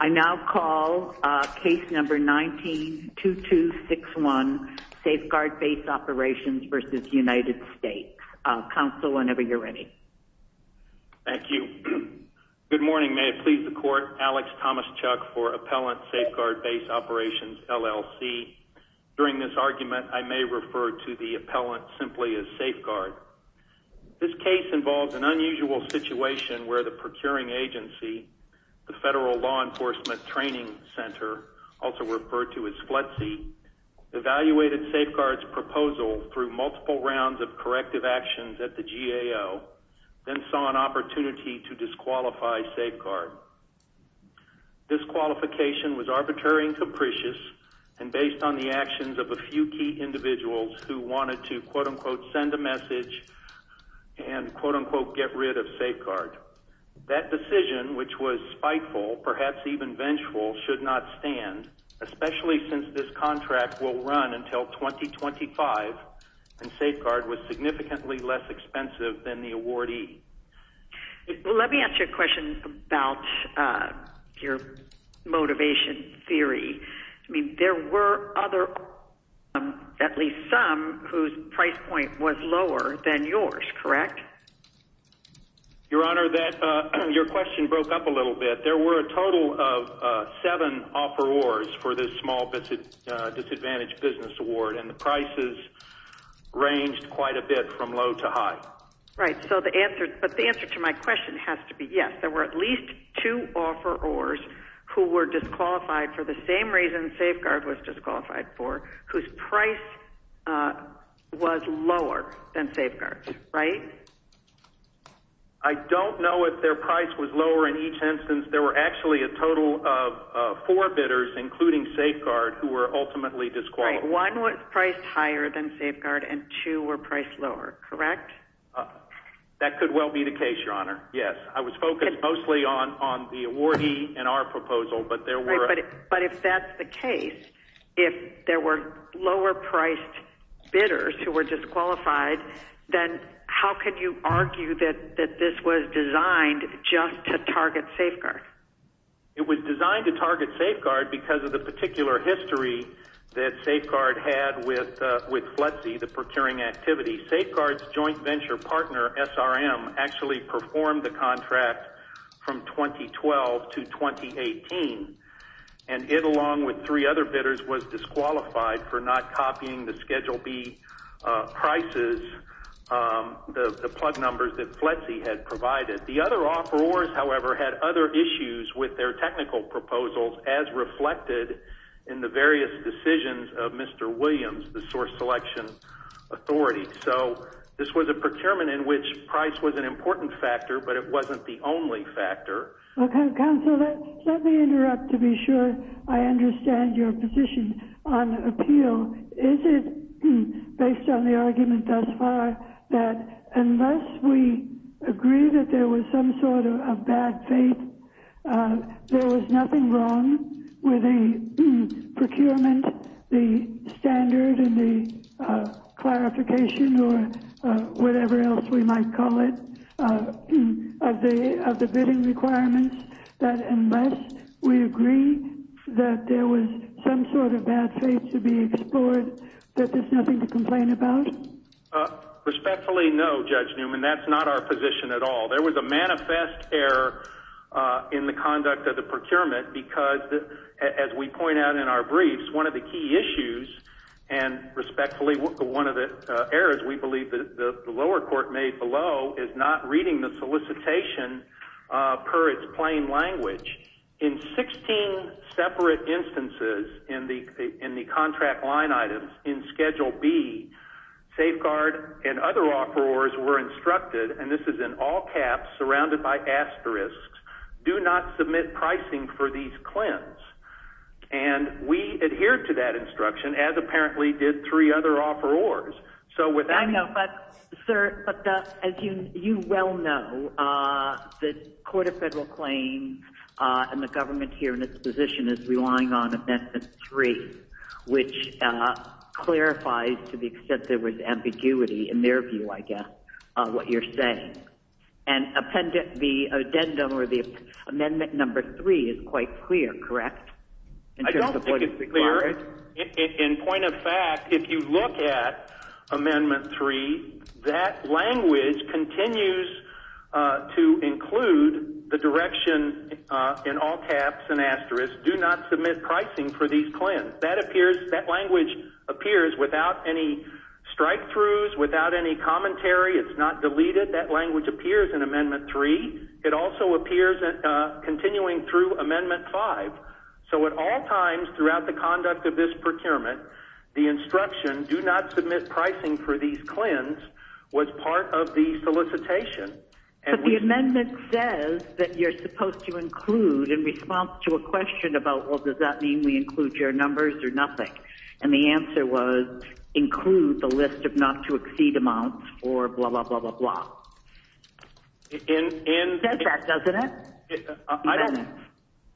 I now call Case No. 19-2261, Safeguard Base Operations v. United States. Counsel, whenever you're ready. Thank you. Good morning. May it please the Court. Alex Thomas-Chuck for Appellant Safeguard Base Operations, LLC. During this argument, I may refer to the appellant simply as Safeguard. This case involves an unusual situation where the procuring agency, the Federal Law Enforcement Training Center, also referred to as FLETC, evaluated Safeguard's proposal through multiple rounds of corrective actions at the GAO, then saw an opportunity to disqualify Safeguard. This qualification was arbitrary and capricious and based on the actions of a few key individuals who wanted to, quote-unquote, send a message and, quote-unquote, get rid of Safeguard. That decision, which was spiteful, perhaps even vengeful, should not stand, especially since this contract will run until 2025, and Safeguard was significantly less expensive than the awardee. Let me ask you a question about your motivation theory. I mean, there were other, at least some, whose price point was lower than yours, correct? Your Honor, your question broke up a little bit. There were a total of seven offerors for this Small Disadvantaged Business Award, and the prices ranged quite a bit from low to high. Right, but the answer to my question has to be yes. There were at least two offerors who were disqualified for the same reason Safeguard was disqualified for, whose price was lower than Safeguard's, right? I don't know if their price was lower in each instance. There were actually a total of four bidders, including Safeguard, who were ultimately disqualified. Right, one was priced higher than Safeguard and two were priced lower, correct? That could well be the case, your Honor, yes. I was focused mostly on the awardee in our proposal, but there were— Right, but if that's the case, if there were lower-priced bidders who were disqualified, then how can you argue that this was designed just to target Safeguard? It was designed to target Safeguard because of the particular history that Safeguard had with FLETC, the procuring activity. Safeguard's joint venture partner, SRM, actually performed the contract from 2012 to 2018, and it, along with three other bidders, was disqualified for not copying the Schedule B prices, the plug numbers that FLETC had provided. The other offerors, however, had other issues with their technical proposals, as reflected in the various decisions of Mr. Williams, the source selection authority. So this was a procurement in which price was an important factor, but it wasn't the only factor. Okay, counsel, let me interrupt to be sure I understand your position on appeal. So is it, based on the argument thus far, that unless we agree that there was some sort of bad fate, there was nothing wrong with the procurement, the standard, and the clarification, or whatever else we might call it, of the bidding requirements, that unless we agree that there was some sort of bad fate to be explored, that there's nothing to complain about? Respectfully, no, Judge Newman. That's not our position at all. There was a manifest error in the conduct of the procurement because, as we point out in our briefs, and respectfully, one of the errors we believe the lower court made below is not reading the solicitation per its plain language. In 16 separate instances in the contract line items in Schedule B, safeguard and other offerors were instructed, and this is in all caps surrounded by asterisks, do not submit pricing for these CLINs. And we adhered to that instruction, as apparently did three other offerors. I know, but, sir, as you well know, the Court of Federal Claims and the government here in its position is relying on Amendment 3, which clarifies, to the extent there was ambiguity, in their view, I guess, what you're saying. And the addendum or the Amendment 3 is quite clear, correct? I don't think it's clear. In point of fact, if you look at Amendment 3, that language continues to include the direction in all caps and asterisks, do not submit pricing for these CLINs. That language appears without any strikethroughs, without any commentary. It's not deleted. That language appears in Amendment 3. It also appears continuing through Amendment 5. So at all times throughout the conduct of this procurement, the instruction, do not submit pricing for these CLINs, was part of the solicitation. But the amendment says that you're supposed to include in response to a question about, well, does that mean we include your numbers or nothing? And the answer was include the list of not to exceed amounts or blah, blah, blah, blah, blah. It says that, doesn't it?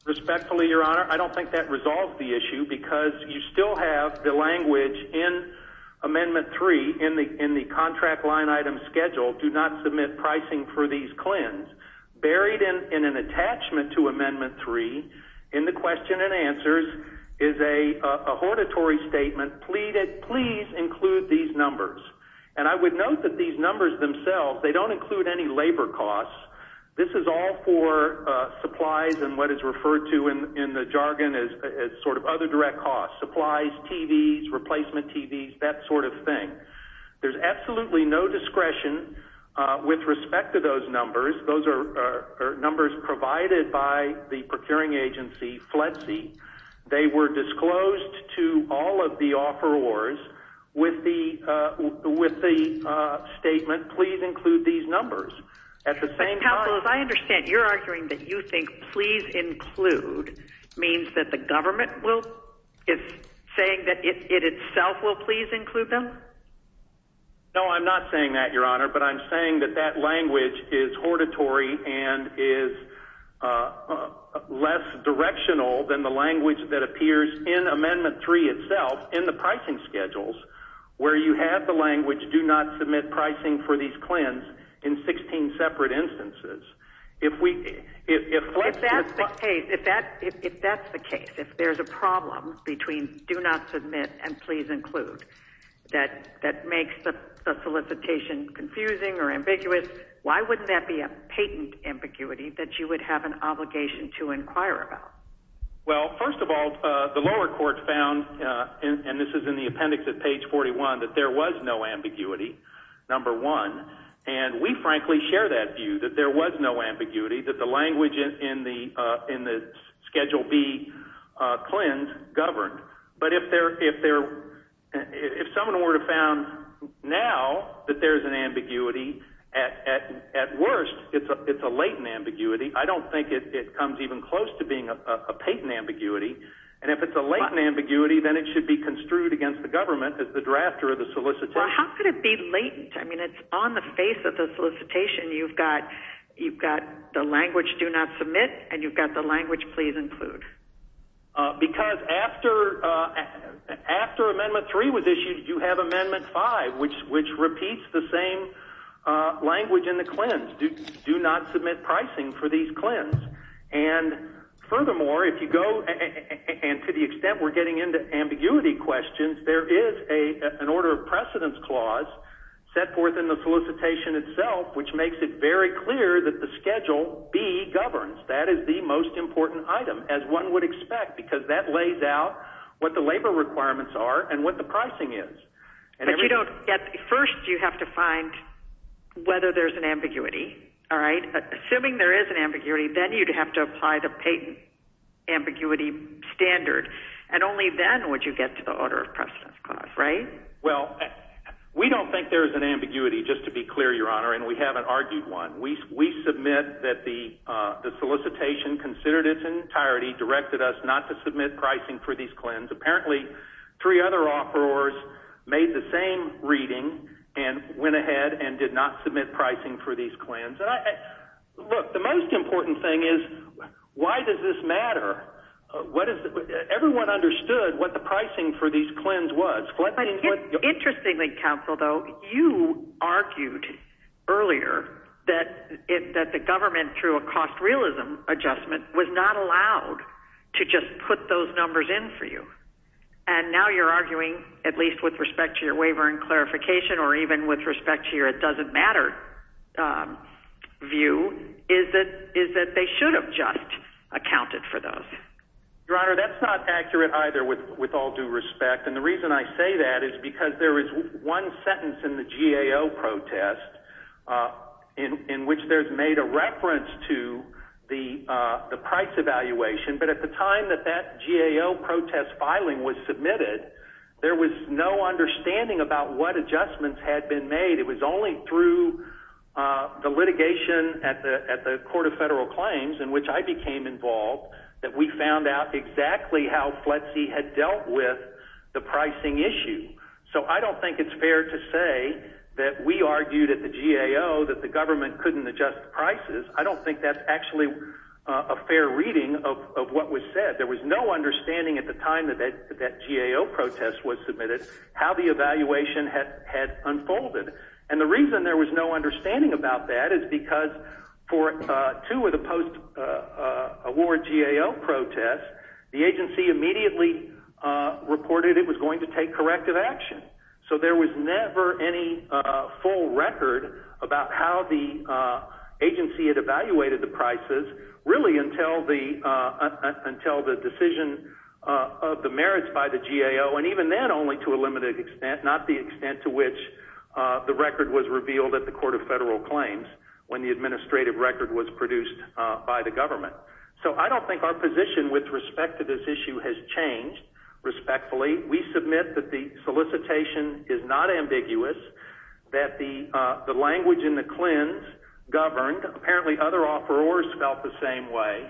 Respectfully, Your Honor, I don't think that resolves the issue because you still have the language in Amendment 3 in the contract line item schedule, do not submit pricing for these CLINs. Buried in an attachment to Amendment 3 in the question and answers is a hortatory statement pleading, please include these numbers. And I would note that these numbers themselves, they don't include any labor costs. This is all for supplies and what is referred to in the jargon as sort of other direct costs, supplies, TVs, replacement TVs, that sort of thing. There's absolutely no discretion with respect to those numbers. Those are numbers provided by the procuring agency, FLETC. They were disclosed to all of the offerors with the statement, please include these numbers. I understand you're arguing that you think please include means that the government is saying that it itself will please include them. No, I'm not saying that, Your Honor, but I'm saying that that language is hortatory and is less directional than the language that appears in Amendment 3 itself in the pricing schedules. Where you have the language, do not submit pricing for these CLINs in 16 separate instances. If that's the case, if there's a problem between do not submit and please include that makes the solicitation confusing or ambiguous, why wouldn't that be a patent ambiguity that you would have an obligation to inquire about? Well, first of all, the lower court found, and this is in the appendix at page 41, that there was no ambiguity, number one, and we frankly share that view that there was no ambiguity, that the language in the Schedule B CLIN governed. But if someone were to have found now that there's an ambiguity, at worst it's a latent ambiguity. I don't think it comes even close to being a patent ambiguity, and if it's a latent ambiguity, then it should be construed against the government as the drafter of the solicitation. Well, how could it be latent? I mean, it's on the face of the solicitation. You've got the language, do not submit, and you've got the language, please include. Because after Amendment 3 was issued, you have Amendment 5, which repeats the same language in the CLINs, do not submit pricing for these CLINs. And furthermore, if you go, and to the extent we're getting into ambiguity questions, there is an order of precedence clause set forth in the solicitation itself, which makes it very clear that the Schedule B governs. That is the most important item, as one would expect, because that lays out what the labor requirements are and what the pricing is. But first you have to find whether there's an ambiguity. Assuming there is an ambiguity, then you'd have to apply the patent ambiguity standard, and only then would you get to the order of precedence clause, right? Well, we don't think there's an ambiguity, just to be clear, Your Honor, and we haven't argued one. We submit that the solicitation considered its entirety, directed us not to submit pricing for these CLINs. Apparently three other offerors made the same reading and went ahead and did not submit pricing for these CLINs. Look, the most important thing is why does this matter? Everyone understood what the pricing for these CLINs was. Interestingly, Counsel, though, you argued earlier that the government, through a cost-realism adjustment, was not allowed to just put those numbers in for you. And now you're arguing, at least with respect to your waiver and clarification, or even with respect to your it-doesn't-matter view, is that they should have just accounted for those. Your Honor, that's not accurate either, with all due respect. And the reason I say that is because there is one sentence in the GAO protest in which there's made a reference to the price evaluation. But at the time that that GAO protest filing was submitted, there was no understanding about what adjustments had been made. It was only through the litigation at the Court of Federal Claims, in which I became involved, that we found out exactly how FLETC had dealt with the pricing issue. So I don't think it's fair to say that we argued at the GAO that the government couldn't adjust the prices. I don't think that's actually a fair reading of what was said. There was no understanding at the time that that GAO protest was submitted how the evaluation had unfolded. And the reason there was no understanding about that is because for two of the post-award GAO protests, the agency immediately reported it was going to take corrective action. So there was never any full record about how the agency had evaluated the prices, really until the decision of the merits by the GAO. And even then, only to a limited extent, not the extent to which the record was revealed at the Court of Federal Claims when the administrative record was produced by the government. So I don't think our position with respect to this issue has changed respectfully. We submit that the solicitation is not ambiguous, that the language in the CLINs governed. Apparently other offerors felt the same way.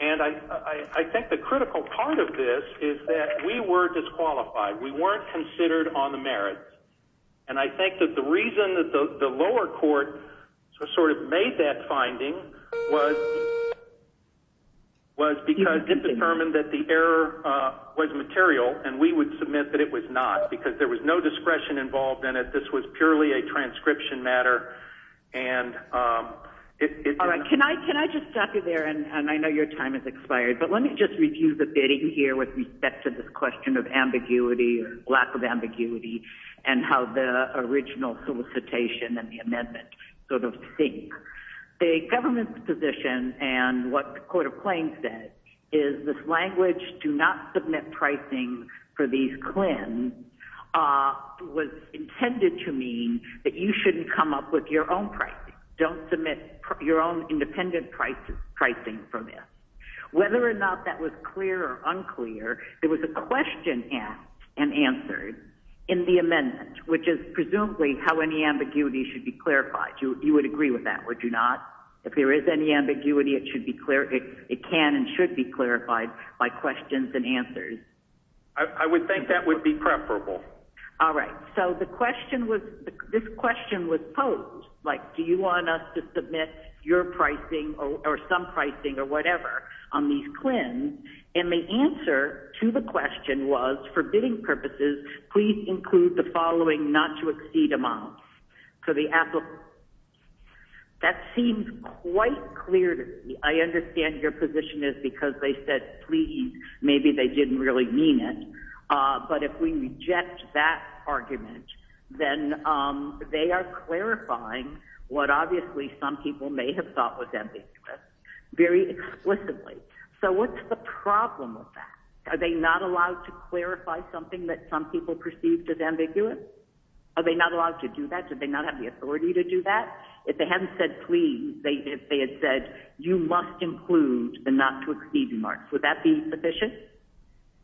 And I think the critical part of this is that we were disqualified. We weren't considered on the merits. And I think that the reason that the lower court sort of made that finding was because it determined that the error was material, and we would submit that it was not because there was no discretion involved in it. This was purely a transcription matter. All right. Can I just stop you there? And I know your time has expired. But let me just review the bidding here with respect to this question of ambiguity or lack of ambiguity and how the original solicitation and the amendment sort of sync. The government's position and what the Court of Claims said is this language, do not submit pricing for these CLINs, was intended to mean that you shouldn't come up with your own pricing. Don't submit your own independent pricing for this. Whether or not that was clear or unclear, there was a question asked and answered in the amendment, which is presumably how any ambiguity should be clarified. You would agree with that, would you not? If there is any ambiguity, it can and should be clarified by questions and answers. I would think that would be preferable. All right. So this question was posed, like, do you want us to submit your pricing or some pricing or whatever on these CLINs? And the answer to the question was, for bidding purposes, please include the following not-to-exceed amounts. That seems quite clear to me. I understand your position is because they said, please, maybe they didn't really mean it. But if we reject that argument, then they are clarifying what obviously some people may have thought was ambiguous very explicitly. So what's the problem with that? Are they not allowed to clarify something that some people perceived as ambiguous? Are they not allowed to do that? Do they not have the authority to do that? If they hadn't said please, if they had said you must include the not-to-exceed marks, would that be sufficient?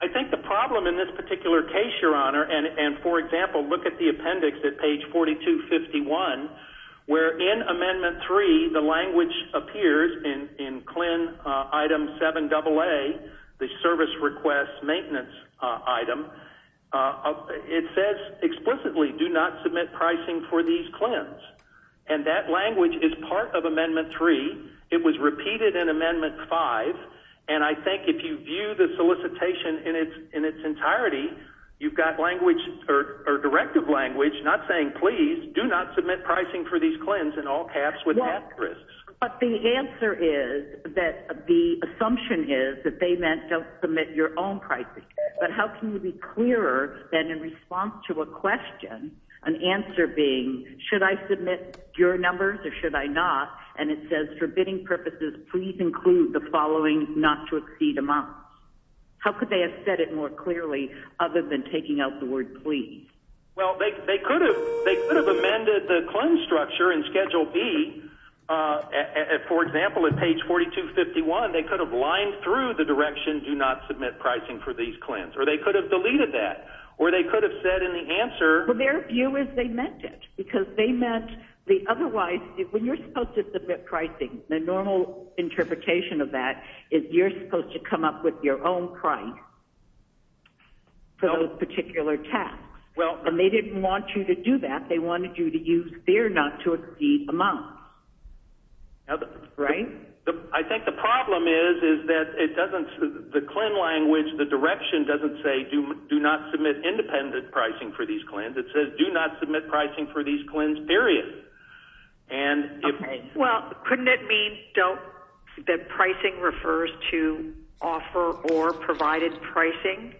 I think the problem in this particular case, Your Honor, and, for example, look at the appendix at page 4251, where in Amendment 3 the language appears in CLIN item 7AA, the service request maintenance item. It says explicitly, do not submit pricing for these CLINs. And that language is part of Amendment 3. It was repeated in Amendment 5. And I think if you view the solicitation in its entirety, you've got language, or directive language, not saying please, do not submit pricing for these CLINs in all caps with half risks. But the answer is that the assumption is that they meant don't submit your own pricing. But how can you be clearer than in response to a question, an answer being, should I submit your numbers or should I not? And it says, for bidding purposes, please include the following not-to-exceed amounts. How could they have said it more clearly other than taking out the word please? Well, they could have amended the CLIN structure in Schedule B. For example, at page 4251, they could have lined through the direction, do not submit pricing for these CLINs. Or they could have deleted that. Or they could have said in the answer. Their view is they meant it because they meant the otherwise, when you're supposed to submit pricing, the normal interpretation of that is you're supposed to come up with your own price for those particular tasks. And they didn't want you to do that. They wanted you to use their not-to-exceed amounts. Right? I think the problem is that the CLIN language, the direction doesn't say do not submit independent pricing for these CLINs. It says do not submit pricing for these CLINs, period. Well, couldn't it mean that pricing refers to offer or provided pricing?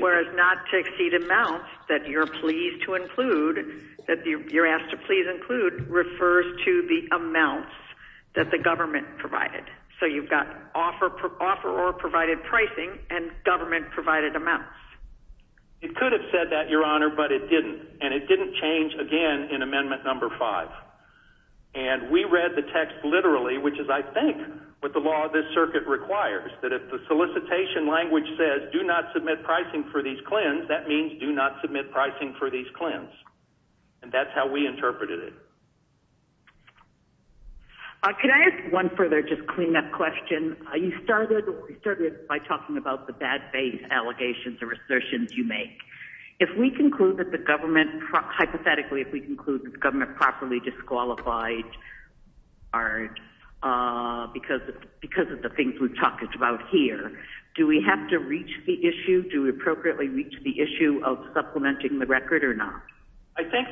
Whereas not-to-exceed amounts that you're pleased to include, that you're asked to please include, refers to the amounts that the government provided. So you've got offer or provided pricing and government provided amounts. It could have said that, Your Honor, but it didn't. And it didn't change, again, in Amendment No. 5. And we read the text literally, which is, I think, what the law of this circuit requires, that if the solicitation language says do not submit pricing for these CLINs, that means do not submit pricing for these CLINs. And that's how we interpreted it. Can I ask one further just cleanup question? You started by talking about the bad faith allegations or assertions you make. If we conclude that the government, hypothetically, if we conclude that the government properly disqualified because of the things we've talked about here, do we have to reach the issue? Do we appropriately reach the issue of supplementing the record or not? I think,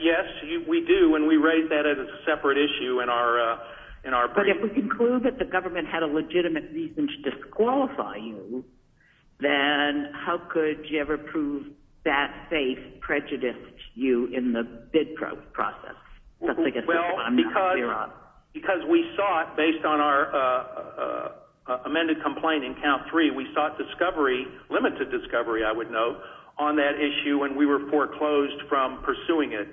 yes, we do. And we raise that as a separate issue in our brief. But if we conclude that the government had a legitimate reason to disqualify you, then how could you ever prove that faith prejudiced you in the bid process? Well, because we sought, based on our amended complaint in Count 3, we sought discovery, limited discovery, I would note, on that issue, and we were foreclosed from pursuing it.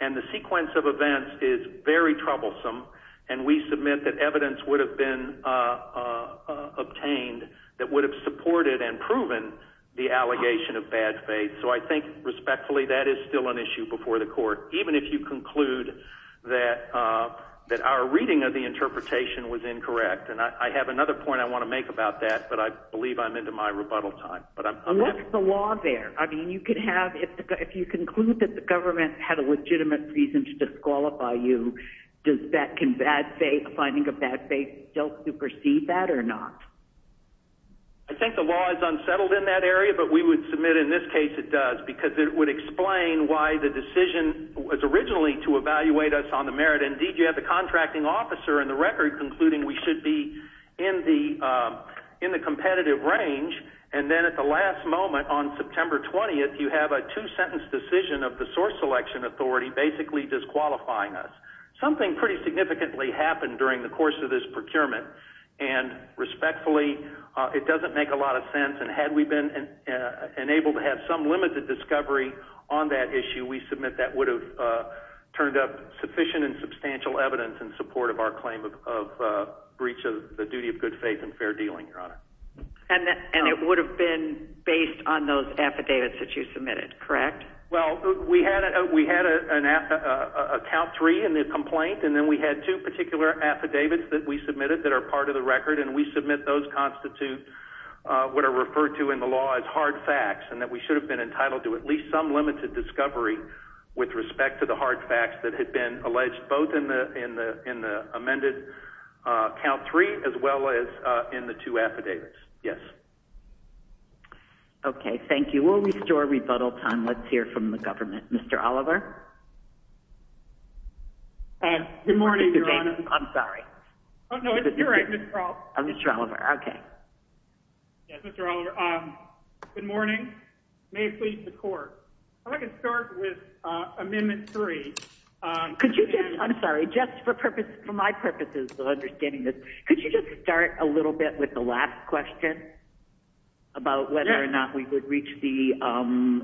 And the sequence of events is very troublesome, and we submit that evidence would have been obtained that would have supported and proven the allegation of bad faith. So I think, respectfully, that is still an issue before the court, even if you conclude that our reading of the interpretation was incorrect. And I have another point I want to make about that, but I believe I'm into my rebuttal time. What's the law there? I mean, if you conclude that the government had a legitimate reason to disqualify you, can finding a bad faith still supersede that or not? I think the law is unsettled in that area, but we would submit in this case it does, because it would explain why the decision was originally to evaluate us on the merit. Indeed, you have the contracting officer in the record concluding we should be in the competitive range. And then at the last moment, on September 20th, you have a two-sentence decision of the source selection authority basically disqualifying us. Something pretty significantly happened during the course of this procurement, and respectfully, it doesn't make a lot of sense. And had we been enabled to have some limited discovery on that issue, we submit that would have turned up sufficient and substantial evidence in support of our claim of breach of the duty of good faith and fair dealing, Your Honor. And it would have been based on those affidavits that you submitted, correct? Well, we had a count three in the complaint, and then we had two particular affidavits that we submitted that are part of the record, and we submit those constitute what are referred to in the law as hard facts, and that we should have been entitled to at least some limited discovery with respect to the hard facts that had been alleged both in the amended count three as well as in the two affidavits. Yes. Okay, thank you. We'll restore rebuttal time. Let's hear from the government. Mr. Oliver? Good morning, Your Honor. I'm sorry. No, it's correct, Mr. Oliver. Mr. Oliver, okay. Yes, Mr. Oliver. Good morning. May it please the Court. If I could start with Amendment 3. Could you just ‑‑ I'm sorry. Just for my purposes of understanding this, could you just start a little bit with the last question about whether or not we would reach the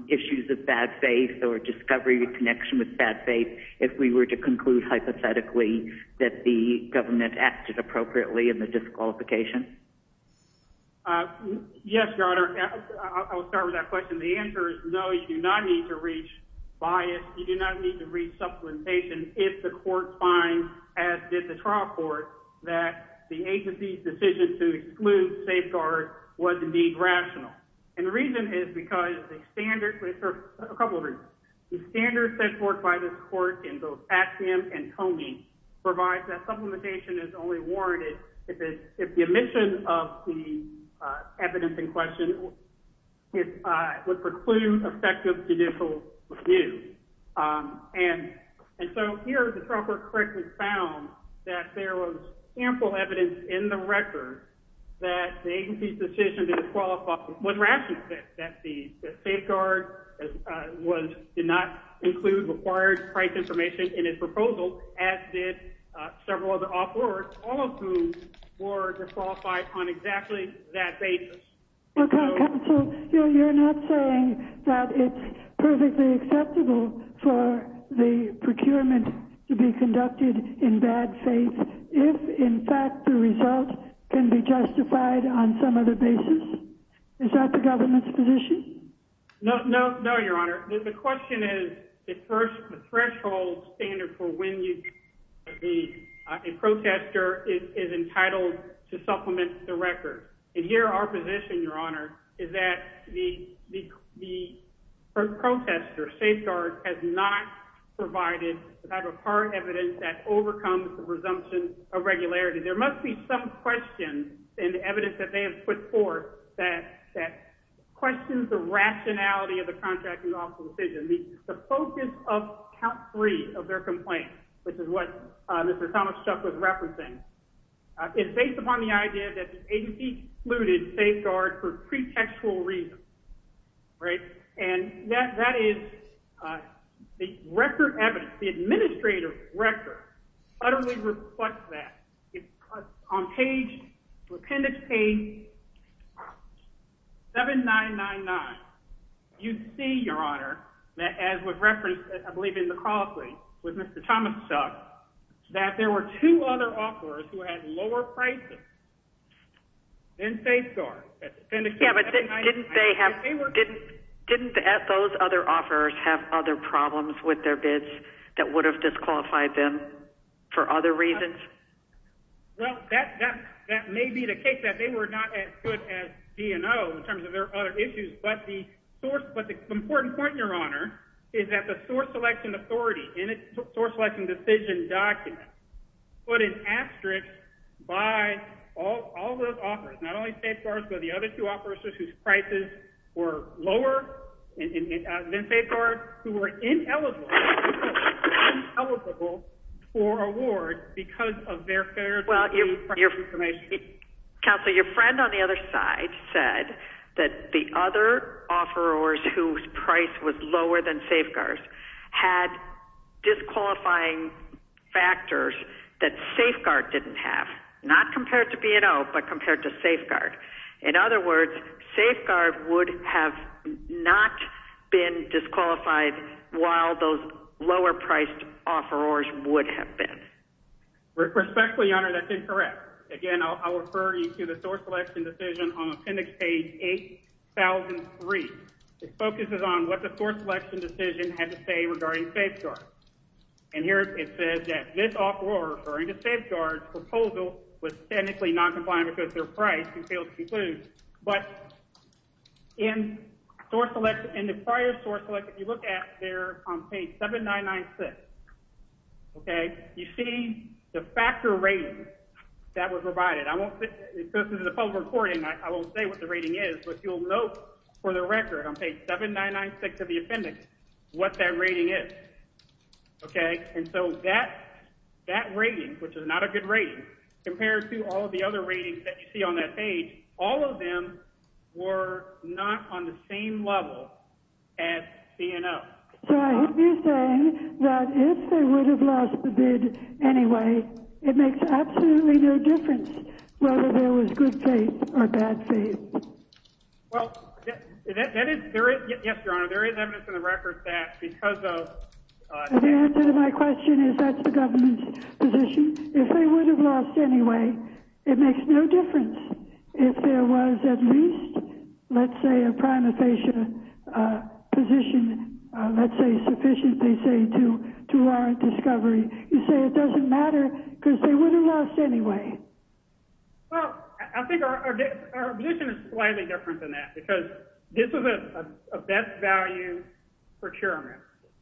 issues of bad faith or discovery in connection with bad faith if we were to conclude hypothetically that the government acted appropriately in the disqualification? Yes, Your Honor. I'll start with that question. The answer is no, you do not need to reach bias. You do not need to reach supplementation if the Court finds, as did the trial court, that the agency's decision to exclude safeguards was indeed rational. And the reason is because the standard ‑‑ a couple of reasons. The standard set forth by this Court in both Axiom and Comey provides that supplementation is only warranted if the omission of the evidence in question would preclude effective judicial review. And so here the trial court correctly found that there was ample evidence in the record that the agency's decision to disqualify was rational, that the safeguard did not include required price information in its proposal, as did several other offerors, all of whom were disqualified on exactly that basis. Counsel, you're not saying that it's perfectly acceptable for the procurement to be conducted in bad faith if, in fact, the result can be justified on some other basis? Is that the government's position? No, Your Honor. The question is the threshold standard for when a protester is entitled to supplement the record. And here our position, Your Honor, is that the protester, safeguard, has not provided the type of hard evidence that overcomes the presumption of regularity. There must be some question and evidence that they have put forth that questions the rationality of the contracting office's decision. The focus of count three of their complaint, which is what Mr. Thomas-Chuck was referencing, is based upon the idea that the agency excluded safeguard for pretextual reasons, right? And that is the record evidence, the administrative record, utterly reflects that. On appendix page 7999, you see, Your Honor, that as was referenced, I believe, in the cross-link with Mr. Thomas-Chuck, that there were two other offerors who had lower prices than safeguard. Yeah, but didn't those other offerors have other problems with their bids that would have disqualified them for other reasons? Well, that may be the case, that they were not as good as D&O in terms of their other issues, but the important point, Your Honor, is that the source selection authority in its source selection decision document put an asterisk by all those offerors, not only safeguards, but the other two offerors whose prices were lower than safeguards, who were ineligible for award because of their fairly- Well, Counselor, your friend on the other side said that the other offerors whose price was lower than safeguards had disqualifying factors that safeguard didn't have, not compared to B&O, but compared to safeguard. In other words, safeguard would have not been disqualified while those lower-priced offerors would have been. Respectfully, Your Honor, that's incorrect. Again, I'll refer you to the source selection decision on Appendix Page 8003. It focuses on what the source selection decision had to say regarding safeguards. And here it says that this offeror referring to safeguards' proposal was technically noncompliant because of their price and failed to conclude. But in the prior source selection, if you look at there on Page 7996, you see the factor rating that was provided. This is a public recording. I won't say what the rating is, but you'll note for the record on Page 7996 of the appendix what that rating is. Okay? And so that rating, which is not a good rating, compared to all of the other ratings that you see on that page, all of them were not on the same level as B&O. So I hope you're saying that if they would have lost the bid anyway, it makes absolutely no difference whether there was good faith or bad faith. Well, yes, Your Honor, there is evidence in the record that because of— The answer to my question is that's the government's position. If they would have lost anyway, it makes no difference. If there was at least, let's say, a prima facie position, let's say sufficiently, say, to warrant discovery, you say it doesn't matter because they would have lost anyway. Well, I think our position is slightly different than that because this is a best value procurement.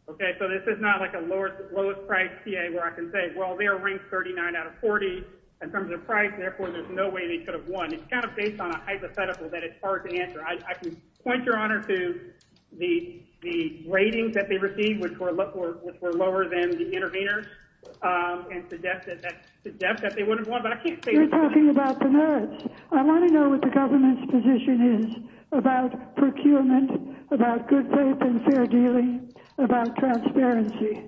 Okay? So this is not like a lowest price TA where I can say, well, they're ranked 39 out of 40 in terms of price, and therefore there's no way they could have won. It's kind of based on a hypothetical that it's hard to answer. I can point, Your Honor, to the ratings that they received, which were lower than the intervenors, and suggest that they wouldn't have won. But I can't say— You're talking about the merits. I want to know what the government's position is about procurement, about good faith and fair dealing, about transparency.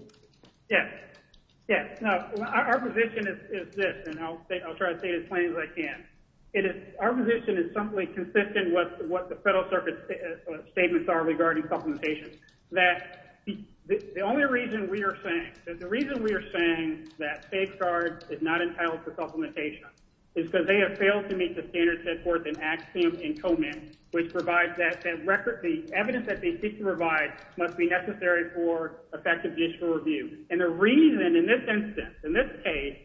Yes. Yes. Now, our position is this, and I'll try to state as plain as I can. Our position is simply consistent with what the Federal Circuit's statements are regarding supplementation, that the only reason we are saying—the reason we are saying that safeguard is not entitled to supplementation is because they have failed to meet the standards set forth in axiom and comment, which provides that the evidence that they seek to provide must be necessary for effective judicial review. And the reason in this instance, in this case,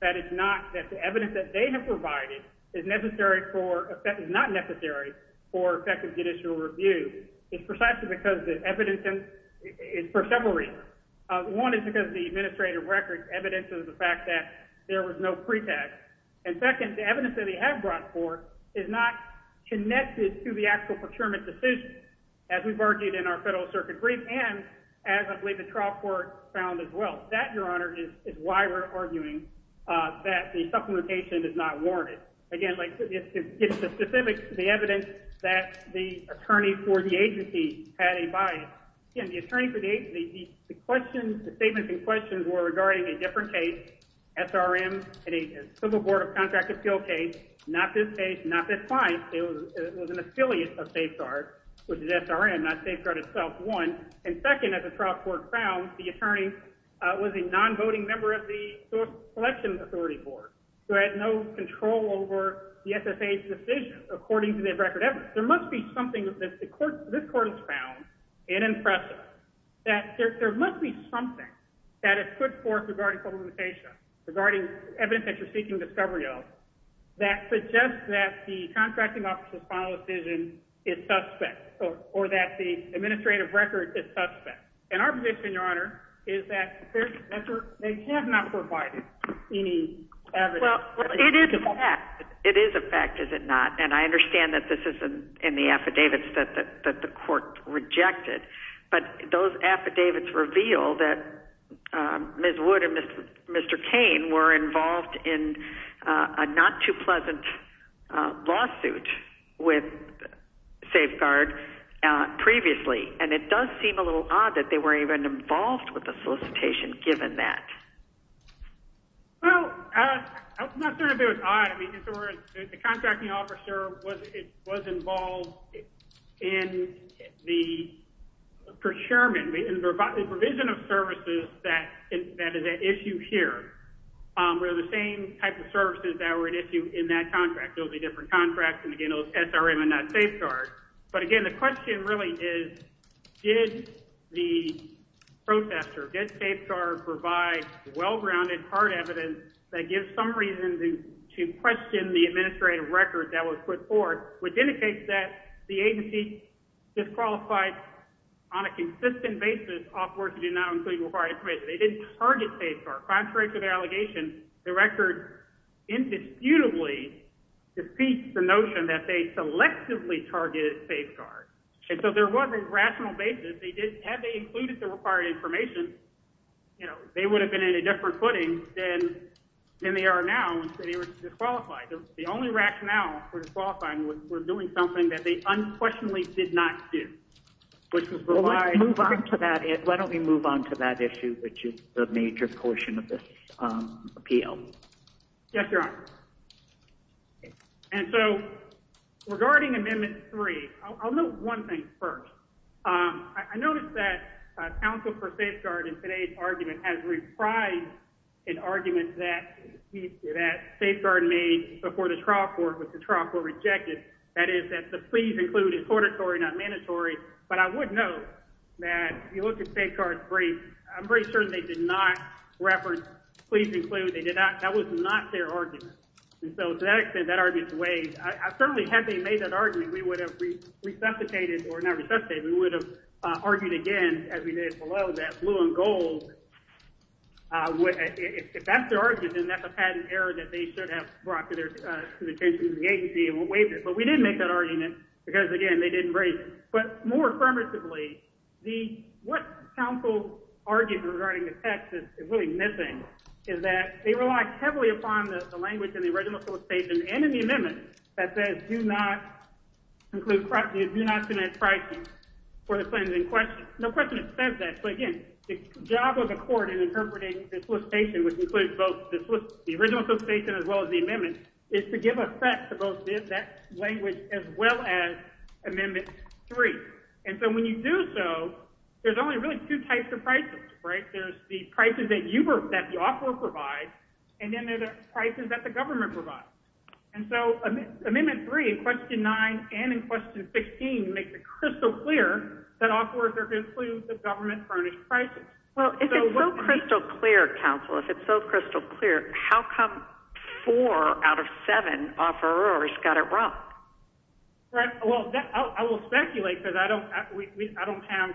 that it's not that the evidence that they have provided is necessary for— is not necessary for effective judicial review is precisely because the evidence is for several reasons. One is because the administrative record evidences the fact that there was no pretext. And second, the evidence that they have brought forth is not connected to the actual procurement decision, as we've argued in our Federal Circuit brief, and as I believe the trial court found as well. That, Your Honor, is why we're arguing that the supplementation is not warranted. Again, like, it's specific to the evidence that the attorney for the agency had advised. Again, the attorney for the agency—the questions, the statements and questions were regarding a different case, SRM and a civil board of contract appeal case. Not this case, not this client. It was an affiliate of Safeguard, which is SRM, not Safeguard itself, one. And second, as the trial court found, the attorney was a non-voting member of the Selection Authority Board, who had no control over the SSA's decision, according to their record evidence. There must be something that this court has found, and impressive, that there must be something that is put forth regarding supplementation. Regarding evidence that you're seeking discovery of, that suggests that the contracting officer's final decision is suspect, or that the administrative record is suspect. And our position, Your Honor, is that they have not provided any evidence. Well, it is a fact. It is a fact, is it not? And I understand that this isn't in the affidavits that the court rejected, but those affidavits reveal that Ms. Wood and Mr. Cain were involved in a not-too-pleasant lawsuit with Safeguard previously, and it does seem a little odd that they were even involved with the solicitation, given that. Well, I'm not saying it was odd. The contracting officer was involved in the procurement, the provision of services that is at issue here, where the same type of services that were at issue in that contract. Those are different contracts, and again, those SRM and not Safeguard. But again, the question really is, did the protester, did Safeguard provide well-grounded hard evidence that gives some reason to question the administrative record that was put forth, which indicates that the agency disqualified on a consistent basis off work that did not include required information. They didn't target Safeguard. Contrary to the allegation, the record indisputably defeats the notion that they selectively targeted Safeguard. And so there wasn't a rational basis. Had they included the required information, they would have been in a different footing than they are now. They were disqualified. The only rationale for disqualifying was for doing something that they unquestionably did not do. Why don't we move on to that issue, which is the major portion of this appeal. Yes, Your Honor. And so regarding Amendment 3, I'll note one thing first. I noticed that counsel for Safeguard in today's argument has reprised an argument that Safeguard made before the trial court, which the trial court rejected. That is, that the please include is auditory, not mandatory. But I would note that if you look at Safeguard's brief, I'm pretty sure they did not reference please include. That was not their argument. And so to that extent, that argument's waived. Certainly had they made that argument, we would have resuscitated or not resuscitated. We would have argued again, as we did below that blue and gold. If that's their argument, then that's a patent error that they should have brought to the attention of the agency and waived it. But we didn't make that argument because again, they didn't break. But more affirmatively, what counsel argued regarding the text is really missing, is that they relied heavily upon the language in the original court station and in the amendment that says do not include, do not connect pricing for the claims in question. No question it says that. So again, the job of the court in interpreting the solicitation, which includes both the original solicitation as well as the amendment, is to give effect to both that language as well as amendment three. And so when you do so, there's only really two types of prices, right? There's the prices that you, that the offeror provides. And then there's the prices that the government provides. And so amendment three, question nine, and in question 16 makes it crystal clear that offers are going to include the government furnished prices. Well, if it's so crystal clear, counsel, if it's so crystal clear, how come four out of seven offerors got it wrong? Right. Well, I will speculate because I don't, I don't have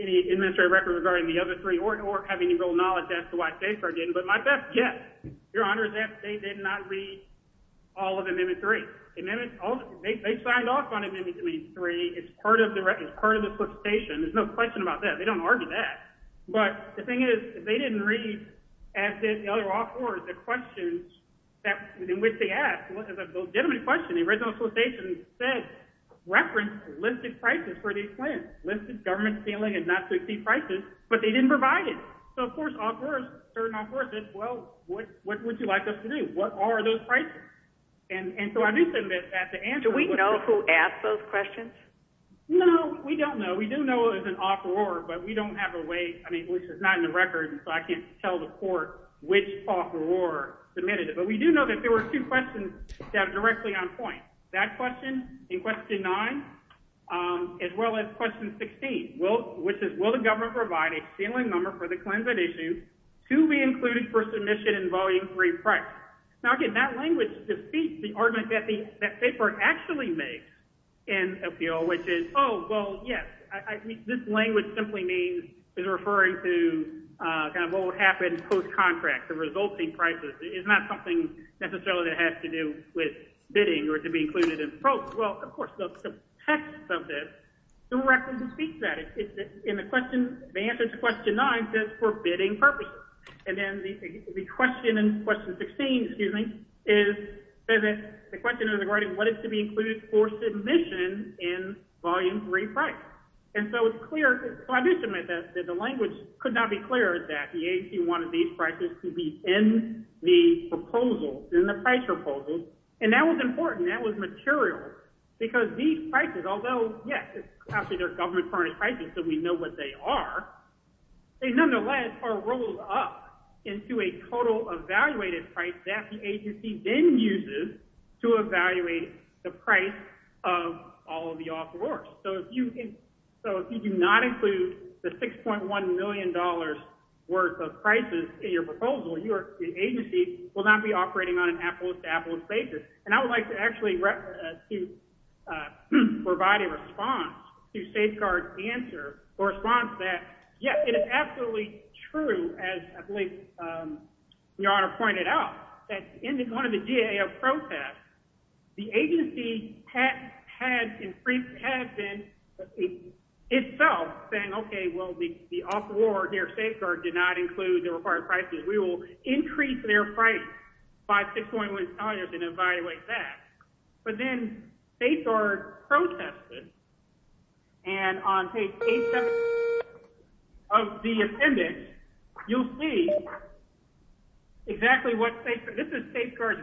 any administrative record regarding the other three or, or have any real knowledge. As to why they are getting, but my best guess, your honor, is that they did not read all of them in three. And then they signed off on it. Maybe three is part of the record. Part of the solicitation. There's no question about that. They don't argue that. But the thing is, they didn't read as did the other offers the questions. In which they ask legitimate question, the original solicitation said reference listed prices for these plans, listed government feeling and not succeed prices, but they didn't provide it. So of course offers are not worth it. Well, what, what would you like us to do? What are those prices? And so I do submit that to answer. We know who asked those questions. No, we don't know. We do know it was an offer or, but we don't have a way. I mean, it's not in the record and so I can't tell the court which offer or submitted it, but we do know that there were two questions that are directly on point that question in question nine, as well as question 16. Well, which is, well, the government provided a ceiling number for the Clinton issue to be included for submission and volume three price. Now I get that language, defeat the argument that the paper actually makes and appeal, which is, oh, well, yes. I mean, this language simply means is referring to kind of what would happen post-contract the resulting prices. It's not something necessarily that has to do with bidding or to be included in pro. Well, of course, the text of this through record to speak that it's in the question, they answered question. I'm just forbidding purpose. And then the question and question 16, excuse me. Is that the question of the garden, what is to be included for submission in volume three, right? And so it's clear that the language could not be cleared that he wanted these prices to be in the proposal in the price proposal. And that was important that was material. Because these prices, although yes, it's actually their government price. And so we know what they are. They nonetheless are rolled up into a total evaluated price that the agency then uses to evaluate the price of all of the offers. So if you can, so if you do not include the $6.1 million worth of prices in your proposal, your agency will not be operating on an Apple established basis. And I would like to actually provide a response to safeguard answer or response that. Yeah, it is absolutely true. As I believe your honor pointed out that in the, one of the GA protests, the agency had had increased, had been itself saying, okay, well, the off war here safeguard did not include the required prices. We will increase their price by $6.1 million and evaluate that. But then they are protested. And on page of the appendix, you'll see exactly what safe. This is safeguard.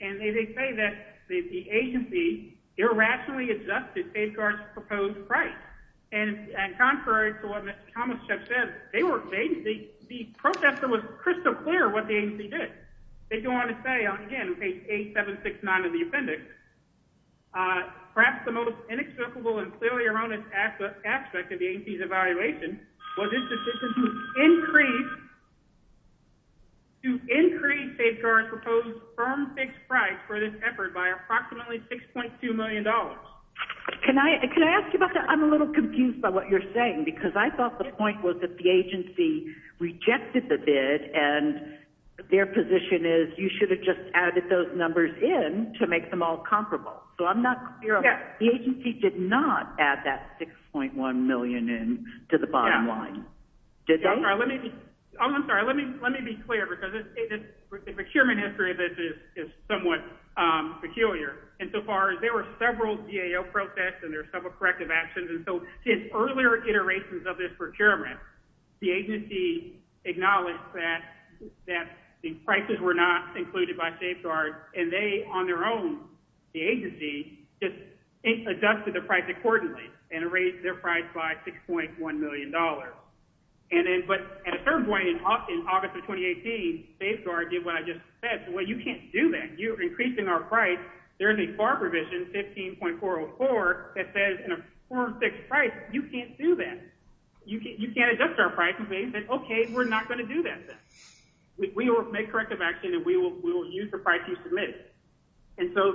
And they, they say that the agency irrationally adjusted safeguards proposed price. And contrary to what they were, they protested with crystal clear what the agency did. They don't want to say on again, page eight, seven, six, nine of the appendix. Perhaps the most inexplicable and clearly around. Aspect of the evaluation. Increase. To increase safeguard proposed from fixed price for this effort by approximately $6.2 million. Can I, can I ask you about that? I'm a little confused by what you're saying, because I thought the point was that the agency rejected the bid and. Their position is you should have just added those numbers in to make them all comparable. So I'm not. The agency did not add that 6.1 million in to the bottom line. Let me be. I'm sorry. Let me, let me be clear. The procurement history of it is somewhat peculiar. And so far as there were several GAO protests and there are several corrective actions. And so his earlier iterations of this procurement. The agency acknowledged that, that the prices were not included by safeguard and they on their own, the agency just adjusted the price accordingly and raised their price by $6.1 million. And then, but at a certain point in August of 2018 safeguard did what I just said. Well, you can't do that. You're increasing our price. There's a FAR provision 15.404 that says in a four or six price, you can't do that. You can't, you can't adjust our pricing. Okay. We're not going to do that. We will make corrective action and we will, we will use the price. And so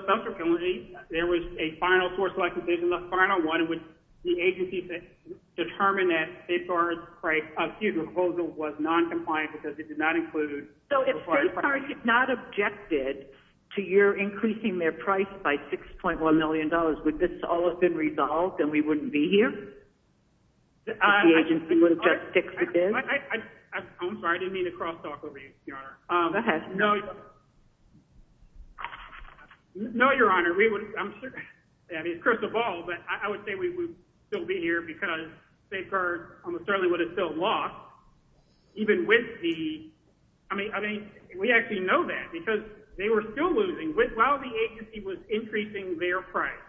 there was a final source like division, the final one would be agencies that determine that safeguards price of huge proposal was non-compliant because it did not include. Are you not objected to your increasing their price by $6.1 million? Would this all have been resolved and we wouldn't be here? The agency would have just fixed it. I'm sorry. I didn't mean to cross talk over you. No, no, your honor. We would, I'm sure. I mean, it's crystal ball, but I would say we would still be here because safeguard almost certainly would have still lost even with the, I mean, I mean, we actually know that because they were still losing with, while the agency was increasing their price,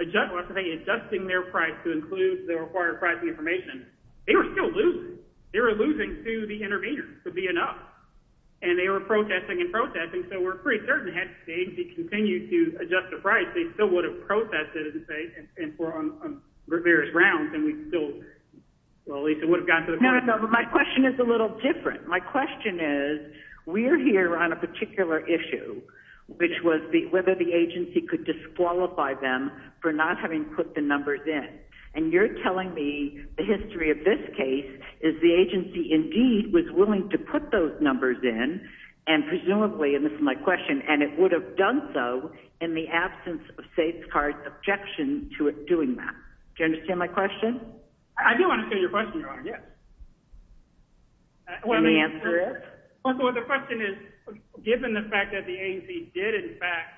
adjusting their price to include the required pricing information. They were still losing. They were losing to the intervener to be enough and they were protesting and protesting. So we're pretty certain had the agency continued to adjust the price, they still would have protested and say, there's rounds and we still, well, at least it would have gotten to the point. My question is a little different. My question is we're here on a particular issue, which was whether the agency could disqualify them for not having put the numbers in. And you're telling me the history of this case is the agency. Indeed was willing to put those numbers in and presumably, and this is my question and it would have done so in the absence of safe cards, objection to doing that. Do you understand my question? I do want to say your question, your honor. Yes. Let me answer it. The question is given the fact that the agency did in fact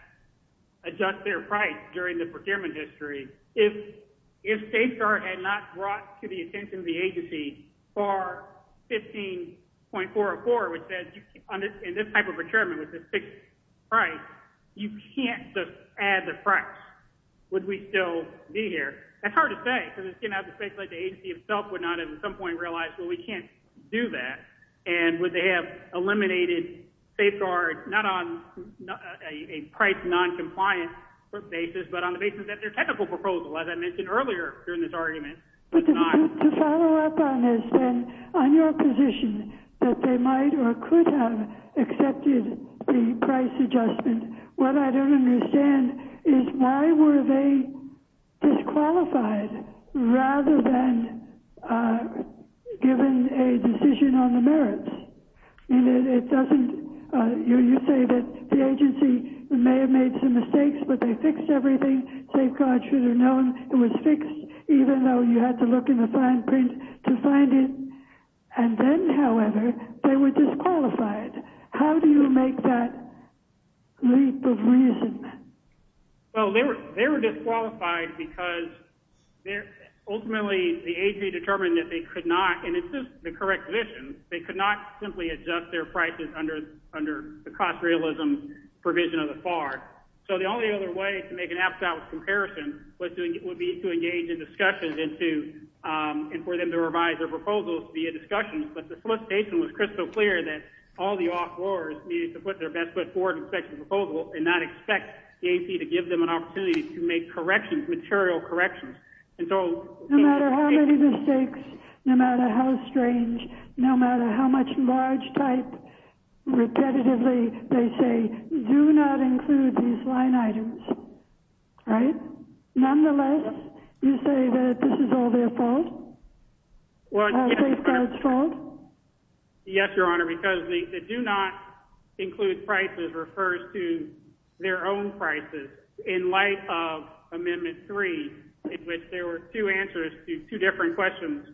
adjust their price during the procurement history, if safeguard had not brought to the attention of the agency for 15.404, which says in this type of procurement with the fixed price, you can't just add the price. Would we still be here? That's hard to say because it's going to have the space, like the agency itself would not have at some point realized, well, we can't do that. And would they have eliminated safeguard? Not on a price non-compliant basis, but on the basis that their technical proposal, as I mentioned earlier, during this argument. To follow up on this then, on your position that they might or could have accepted the price adjustment and what I don't understand is why were they disqualified rather than given a decision on the merits? And it doesn't, you say that the agency may have made some mistakes, but they fixed everything. Safeguard should have known it was fixed, even though you had to look in the fine print to find it. And then, however, they were disqualified. How do you make that leap of reason? Well, they were disqualified because they're ultimately the agency determined that they could not, and it's just the correct vision. They could not simply adjust their prices under, under the cost realism provision of the FAR. So the only other way to make an abstract comparison was doing it would be to engage in discussions and to, and for them to revise their proposals via discussions. But the solicitation was crystal clear that all the off lowers needed to put their best foot forward and expect the proposal and not expect the AP to give them an opportunity to make corrections, material corrections. And so no matter how many mistakes, no matter how strange, no matter how much large type repetitively, they say do not include these line items. Right? Nonetheless, you say that this is all their fault? Yes, Your Honor, because they do not include prices, refers to their own prices in light of amendment three, in which there were two answers to two different questions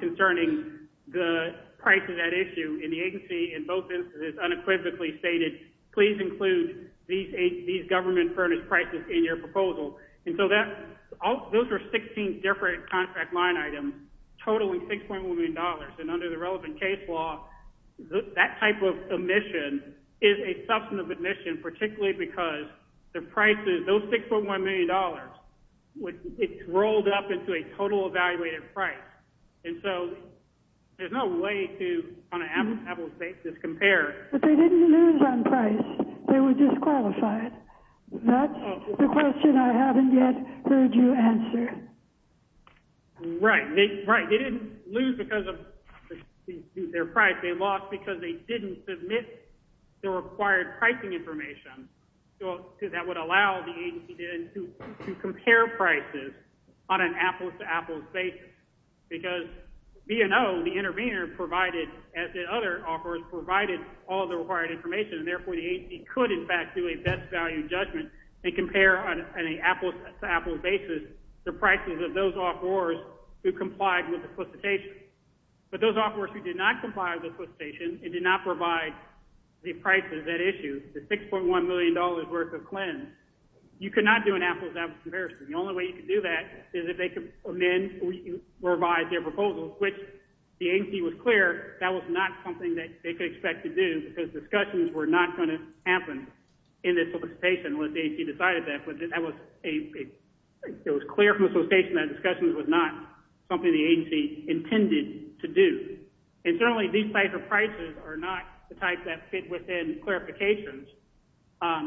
concerning the price of that issue in the agency. In both instances, unequivocally stated, please include these government furnished prices in your proposal. And so that those are 16 different contract line items. And under the relevant case law, that type of admission is a substantive admission, particularly because the price is those 6.1 million dollars. It's rolled up into a total evaluated price. And so there's no way to compare. But they didn't lose on price. They were disqualified. That's the question I haven't yet heard you answer. Right. Right. They didn't lose because of their price. They lost because they didn't submit the required pricing information. That would allow the agency to compare prices on an apples to apples basis. Because B&O, the intervener provided, as the other offers provided all the required information. And therefore the agency could in fact do a best value judgment and compare on an apples to apples basis, the prices of those offers who complied with the solicitation. But those offers who did not comply with the solicitation and did not provide the price of that issue, the 6.1 million dollars worth of cleanse, you could not do an apples to apples comparison. The only way you could do that is if they could amend or revise their proposals, which the agency was clear, that was not something that they could expect to do because discussions were not going to happen in this solicitation unless the agency decided that. But that was a, it was clear from the solicitation that discussions was not something the agency intended to do. And certainly these types of prices are not the types that fit within clarifications.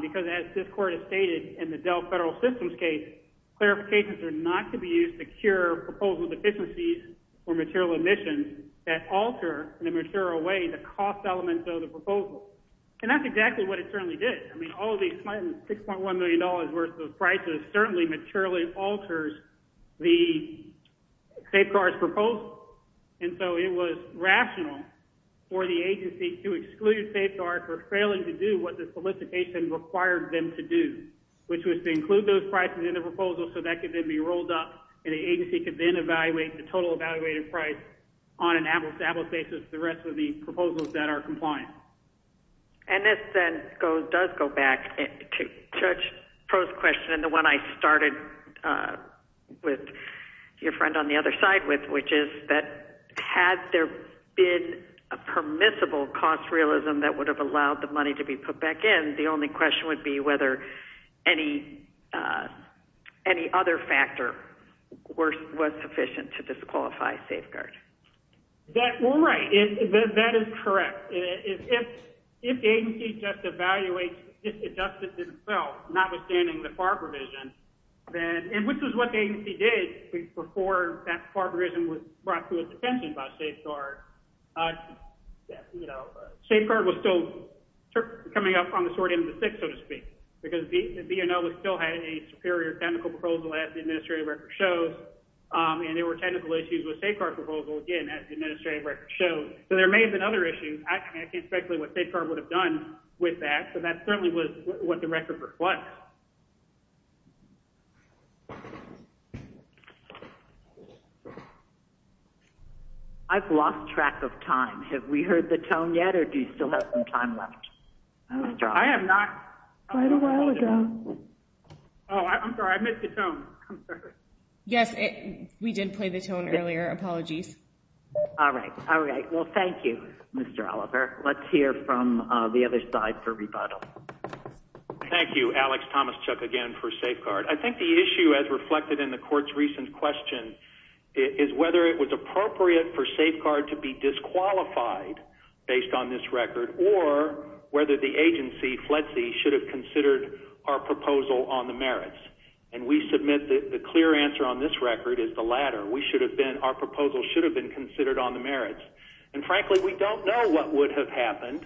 Because as this court has stated in the Dell federal systems case, clarifications are not to be used to cure proposal deficiencies or material emissions that alter in a material way the cost elements of the proposal. And that's exactly what it certainly did. I mean, all of these clients 6.1 million dollars worth of prices certainly materially alters the safeguards proposal. And so it was rational for the agency to exclude safeguards for failing to do what the solicitation required them to do, which was to include those prices in the proposal. So that could then be rolled up and the agency could then evaluate the total evaluated price on an apples to apples basis. The rest of the proposals that are compliant. And this then goes, does go back to church. Post question. And the one I started. With your friend on the other side with, which is that had there been a permissible cost realism that would have allowed the money to be put back in. The only question would be whether any, any other factor worse was sufficient to disqualify safeguard. That is correct. If, if, if the agency just evaluates, if it doesn't as well, notwithstanding the part provision, then which is what they did before that part of reason was brought to a detention by safeguard. Safeguard was still coming up on the sorting of the six, so to speak, because the, you know, we still had a superior technical proposal as the administrative record shows. And there were technical issues with safeguard proposal again, as the administrative record shows. So there may have been other issues. I can't speculate what safeguard would have done with that. So that certainly was what the record was. I've lost track of time. Have we heard the tone yet or do you still have some time left? I am not quite a while ago. Oh, I'm sorry. I missed the tone. Yes, we did play the tone earlier. Apologies. All right. All right. Well, thank you, Mr. Oliver. Let's hear from the other side for rebuttal. Thank you, Alex Thomas Chuck again for safeguard. I think the issue as reflected in the court's recent question is whether it was appropriate for safeguard to be disqualified based on this record or whether the agency FLETC should have considered our proposal on the merits. And we submit that the clear answer on this record is the latter. We should have been, our proposal should have been considered on the merits. And frankly, we don't know what would have happened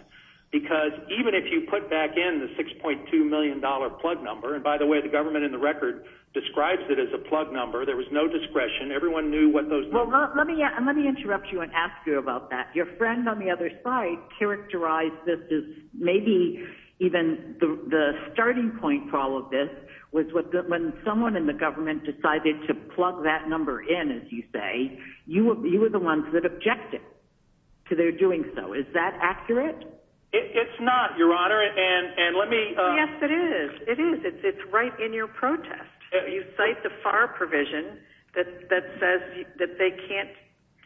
because even if you put back in the $6.2 million plug number, and by the way, the government and the record describes it as a plug number, there was no discretion. Everyone knew what those. Let me interrupt you and ask you about that. Your friend on the other side characterized this is maybe even the starting point for all of this was when someone in the government decided to plug that number in, as you say, you were, you were the ones that objected to their doing. So is that accurate? It's not your honor. And, and let me, Yes, it is. It is. It's, it's right in your protest. You cite the FAR provision that, that says that they can't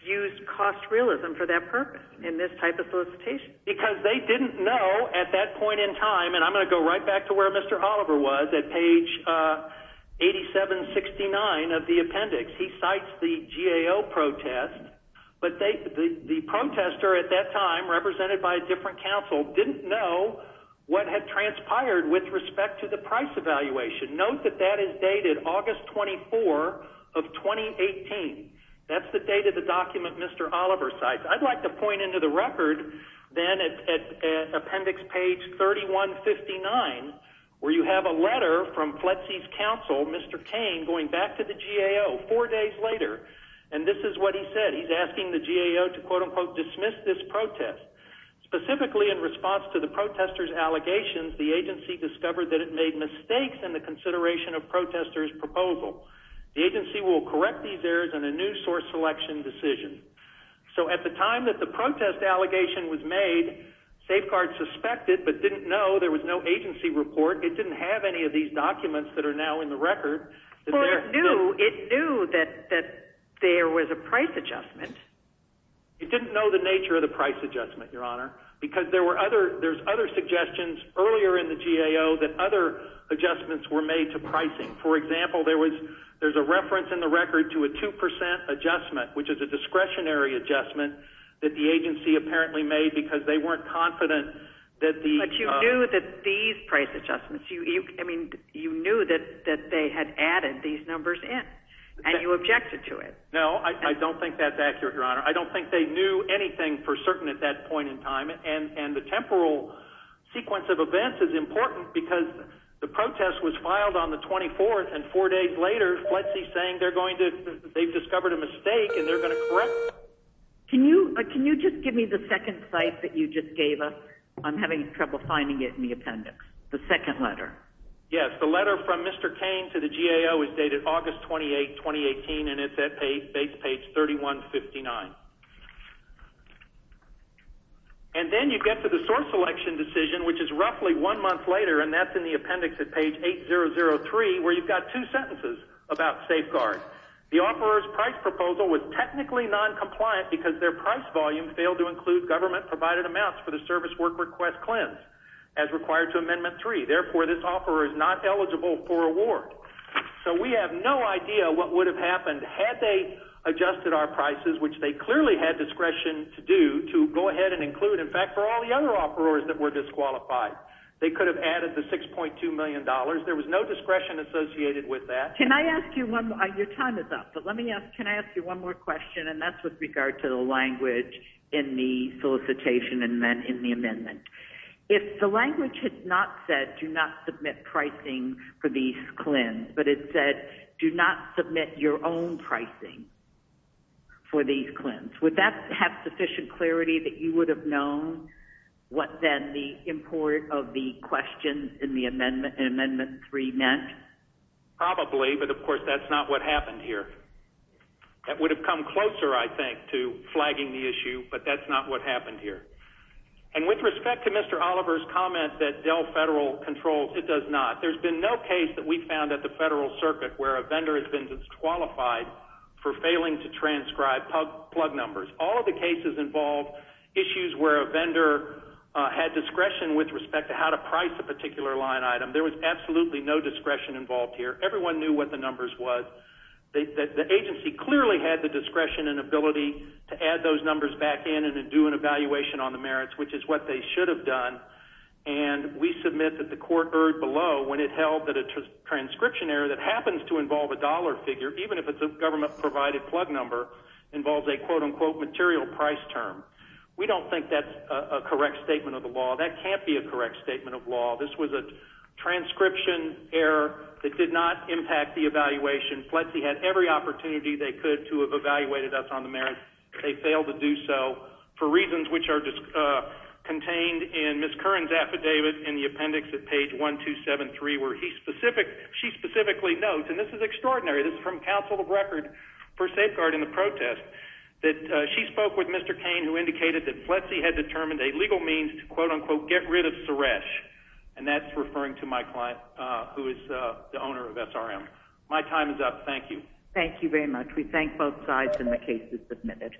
use cost realism for that purpose in this type of solicitation. Because they didn't know at that point in time. And I'm going to go right back to where Mr. Oliver was at page 87 69 of the appendix. He cites the GAO protest, but they, the protester at that time represented by a different council didn't know what had transpired with respect to the price evaluation. Note that that is dated August 24 of 2018. That's the date of the document. Mr. Oliver sites. I'd like to point into the record then at appendix page 3159, where you have a letter from FLETC's council, Mr. Tame going back to the GAO four days later. And this is what he said. He's asking the GAO to quote unquote, dismiss this protest specifically in response to the protesters allegations. The agency discovered that it made mistakes in the consideration of protesters proposal. The agency will correct these errors and a new source selection decision. So at the time that the protest allegation was made safeguard suspected, but didn't know there was no agency report. It didn't have any of these documents that are now in the record. It knew that, that there was a price adjustment. It didn't know the nature of the price adjustment, your honor, because there were other, there's other suggestions earlier in the GAO that other adjustments were made to pricing. For example, there was, there's a reference in the record to a 2% adjustment, which is a discretionary adjustment that the agency apparently made because they weren't confident that the, you knew that these price adjustments you, you, I mean, you knew that that they had added these numbers in and you objected to it. No, I don't think that's accurate, your honor. I don't think they knew anything for certain at that point in time. And, and the temporal sequence of events is important because the protest was filed on the 24th and four days later, FLETC saying they're going to, they've discovered a mistake and they're going to correct. Can you, can you just give me the second site that you just gave us? I'm having trouble finding it in the appendix. The second letter. Yes. The letter from Mr. Kane to the GAO is dated August 28th, 2018. And it's at page, base page 3159. And then you get to the source selection decision, which is roughly one month later. And that's in the appendix at page 8 0 0 3, where you've got two sentences about safeguards. The offers price proposal was technically noncompliant because their price volume failed to include government provided amounts for the service work request cleanse as required to amendment three. Therefore this offer is not eligible for award. So we have no idea what would have happened had they adjusted our prices, which they clearly had discretion to do, to go ahead and include. In fact, for all the other offerers that were disqualified, they could have added the $6.2 million. There was no discretion associated with that. Can I ask you one, your time is up, but let me ask, can I ask you one more question? And that's with regard to the language in the solicitation and then in the amendment, if the language had not said, do not submit pricing for these cleanse, but it said do not submit your own pricing for these cleanse. Would that have sufficient clarity that you would have known what then the import of the question in the amendment and amendment three meant? Probably, but of course that's not what happened here. That would have come closer, I think, to flagging the issue, but that's not what happened here. And with respect to Mr. Oliver's comment that Dell federal controls, it does not. There's been no case that we found at the federal circuit where a vendor has been disqualified for failing to transcribe plug numbers. All of the cases involve issues where a vendor had discretion with respect to how to price a particular line item. There was absolutely no discretion involved here. Everyone knew what the numbers was. They, the agency clearly had the discretion and ability to add those numbers back in and do an evaluation on the merits, which is what they should have done. And we submit that the court heard below when it held that a transcription error that happens to involve a dollar figure, even if it's a government provided plug number involves a quote unquote material price term. We don't think that's a correct statement of the law. That can't be a correct statement of law. This was a transcription error that did not impact the evaluation. Plexi had every opportunity they could to have evaluated us on the merits. They failed to do so for reasons, which are just contained in Ms. Curran's affidavit in the appendix at page one, two, seven, three, where he specific, she specifically notes, and this is extraordinary. This is from council of record for safeguard in the protest that she spoke with Mr. Kane, who indicated that Plexi had determined a legal means to quote unquote, get rid of Suresh. And that's referring to my client, who is the owner of SRM. My time is up. Thank you. Thank you very much. We thank both sides. And the case is submitted.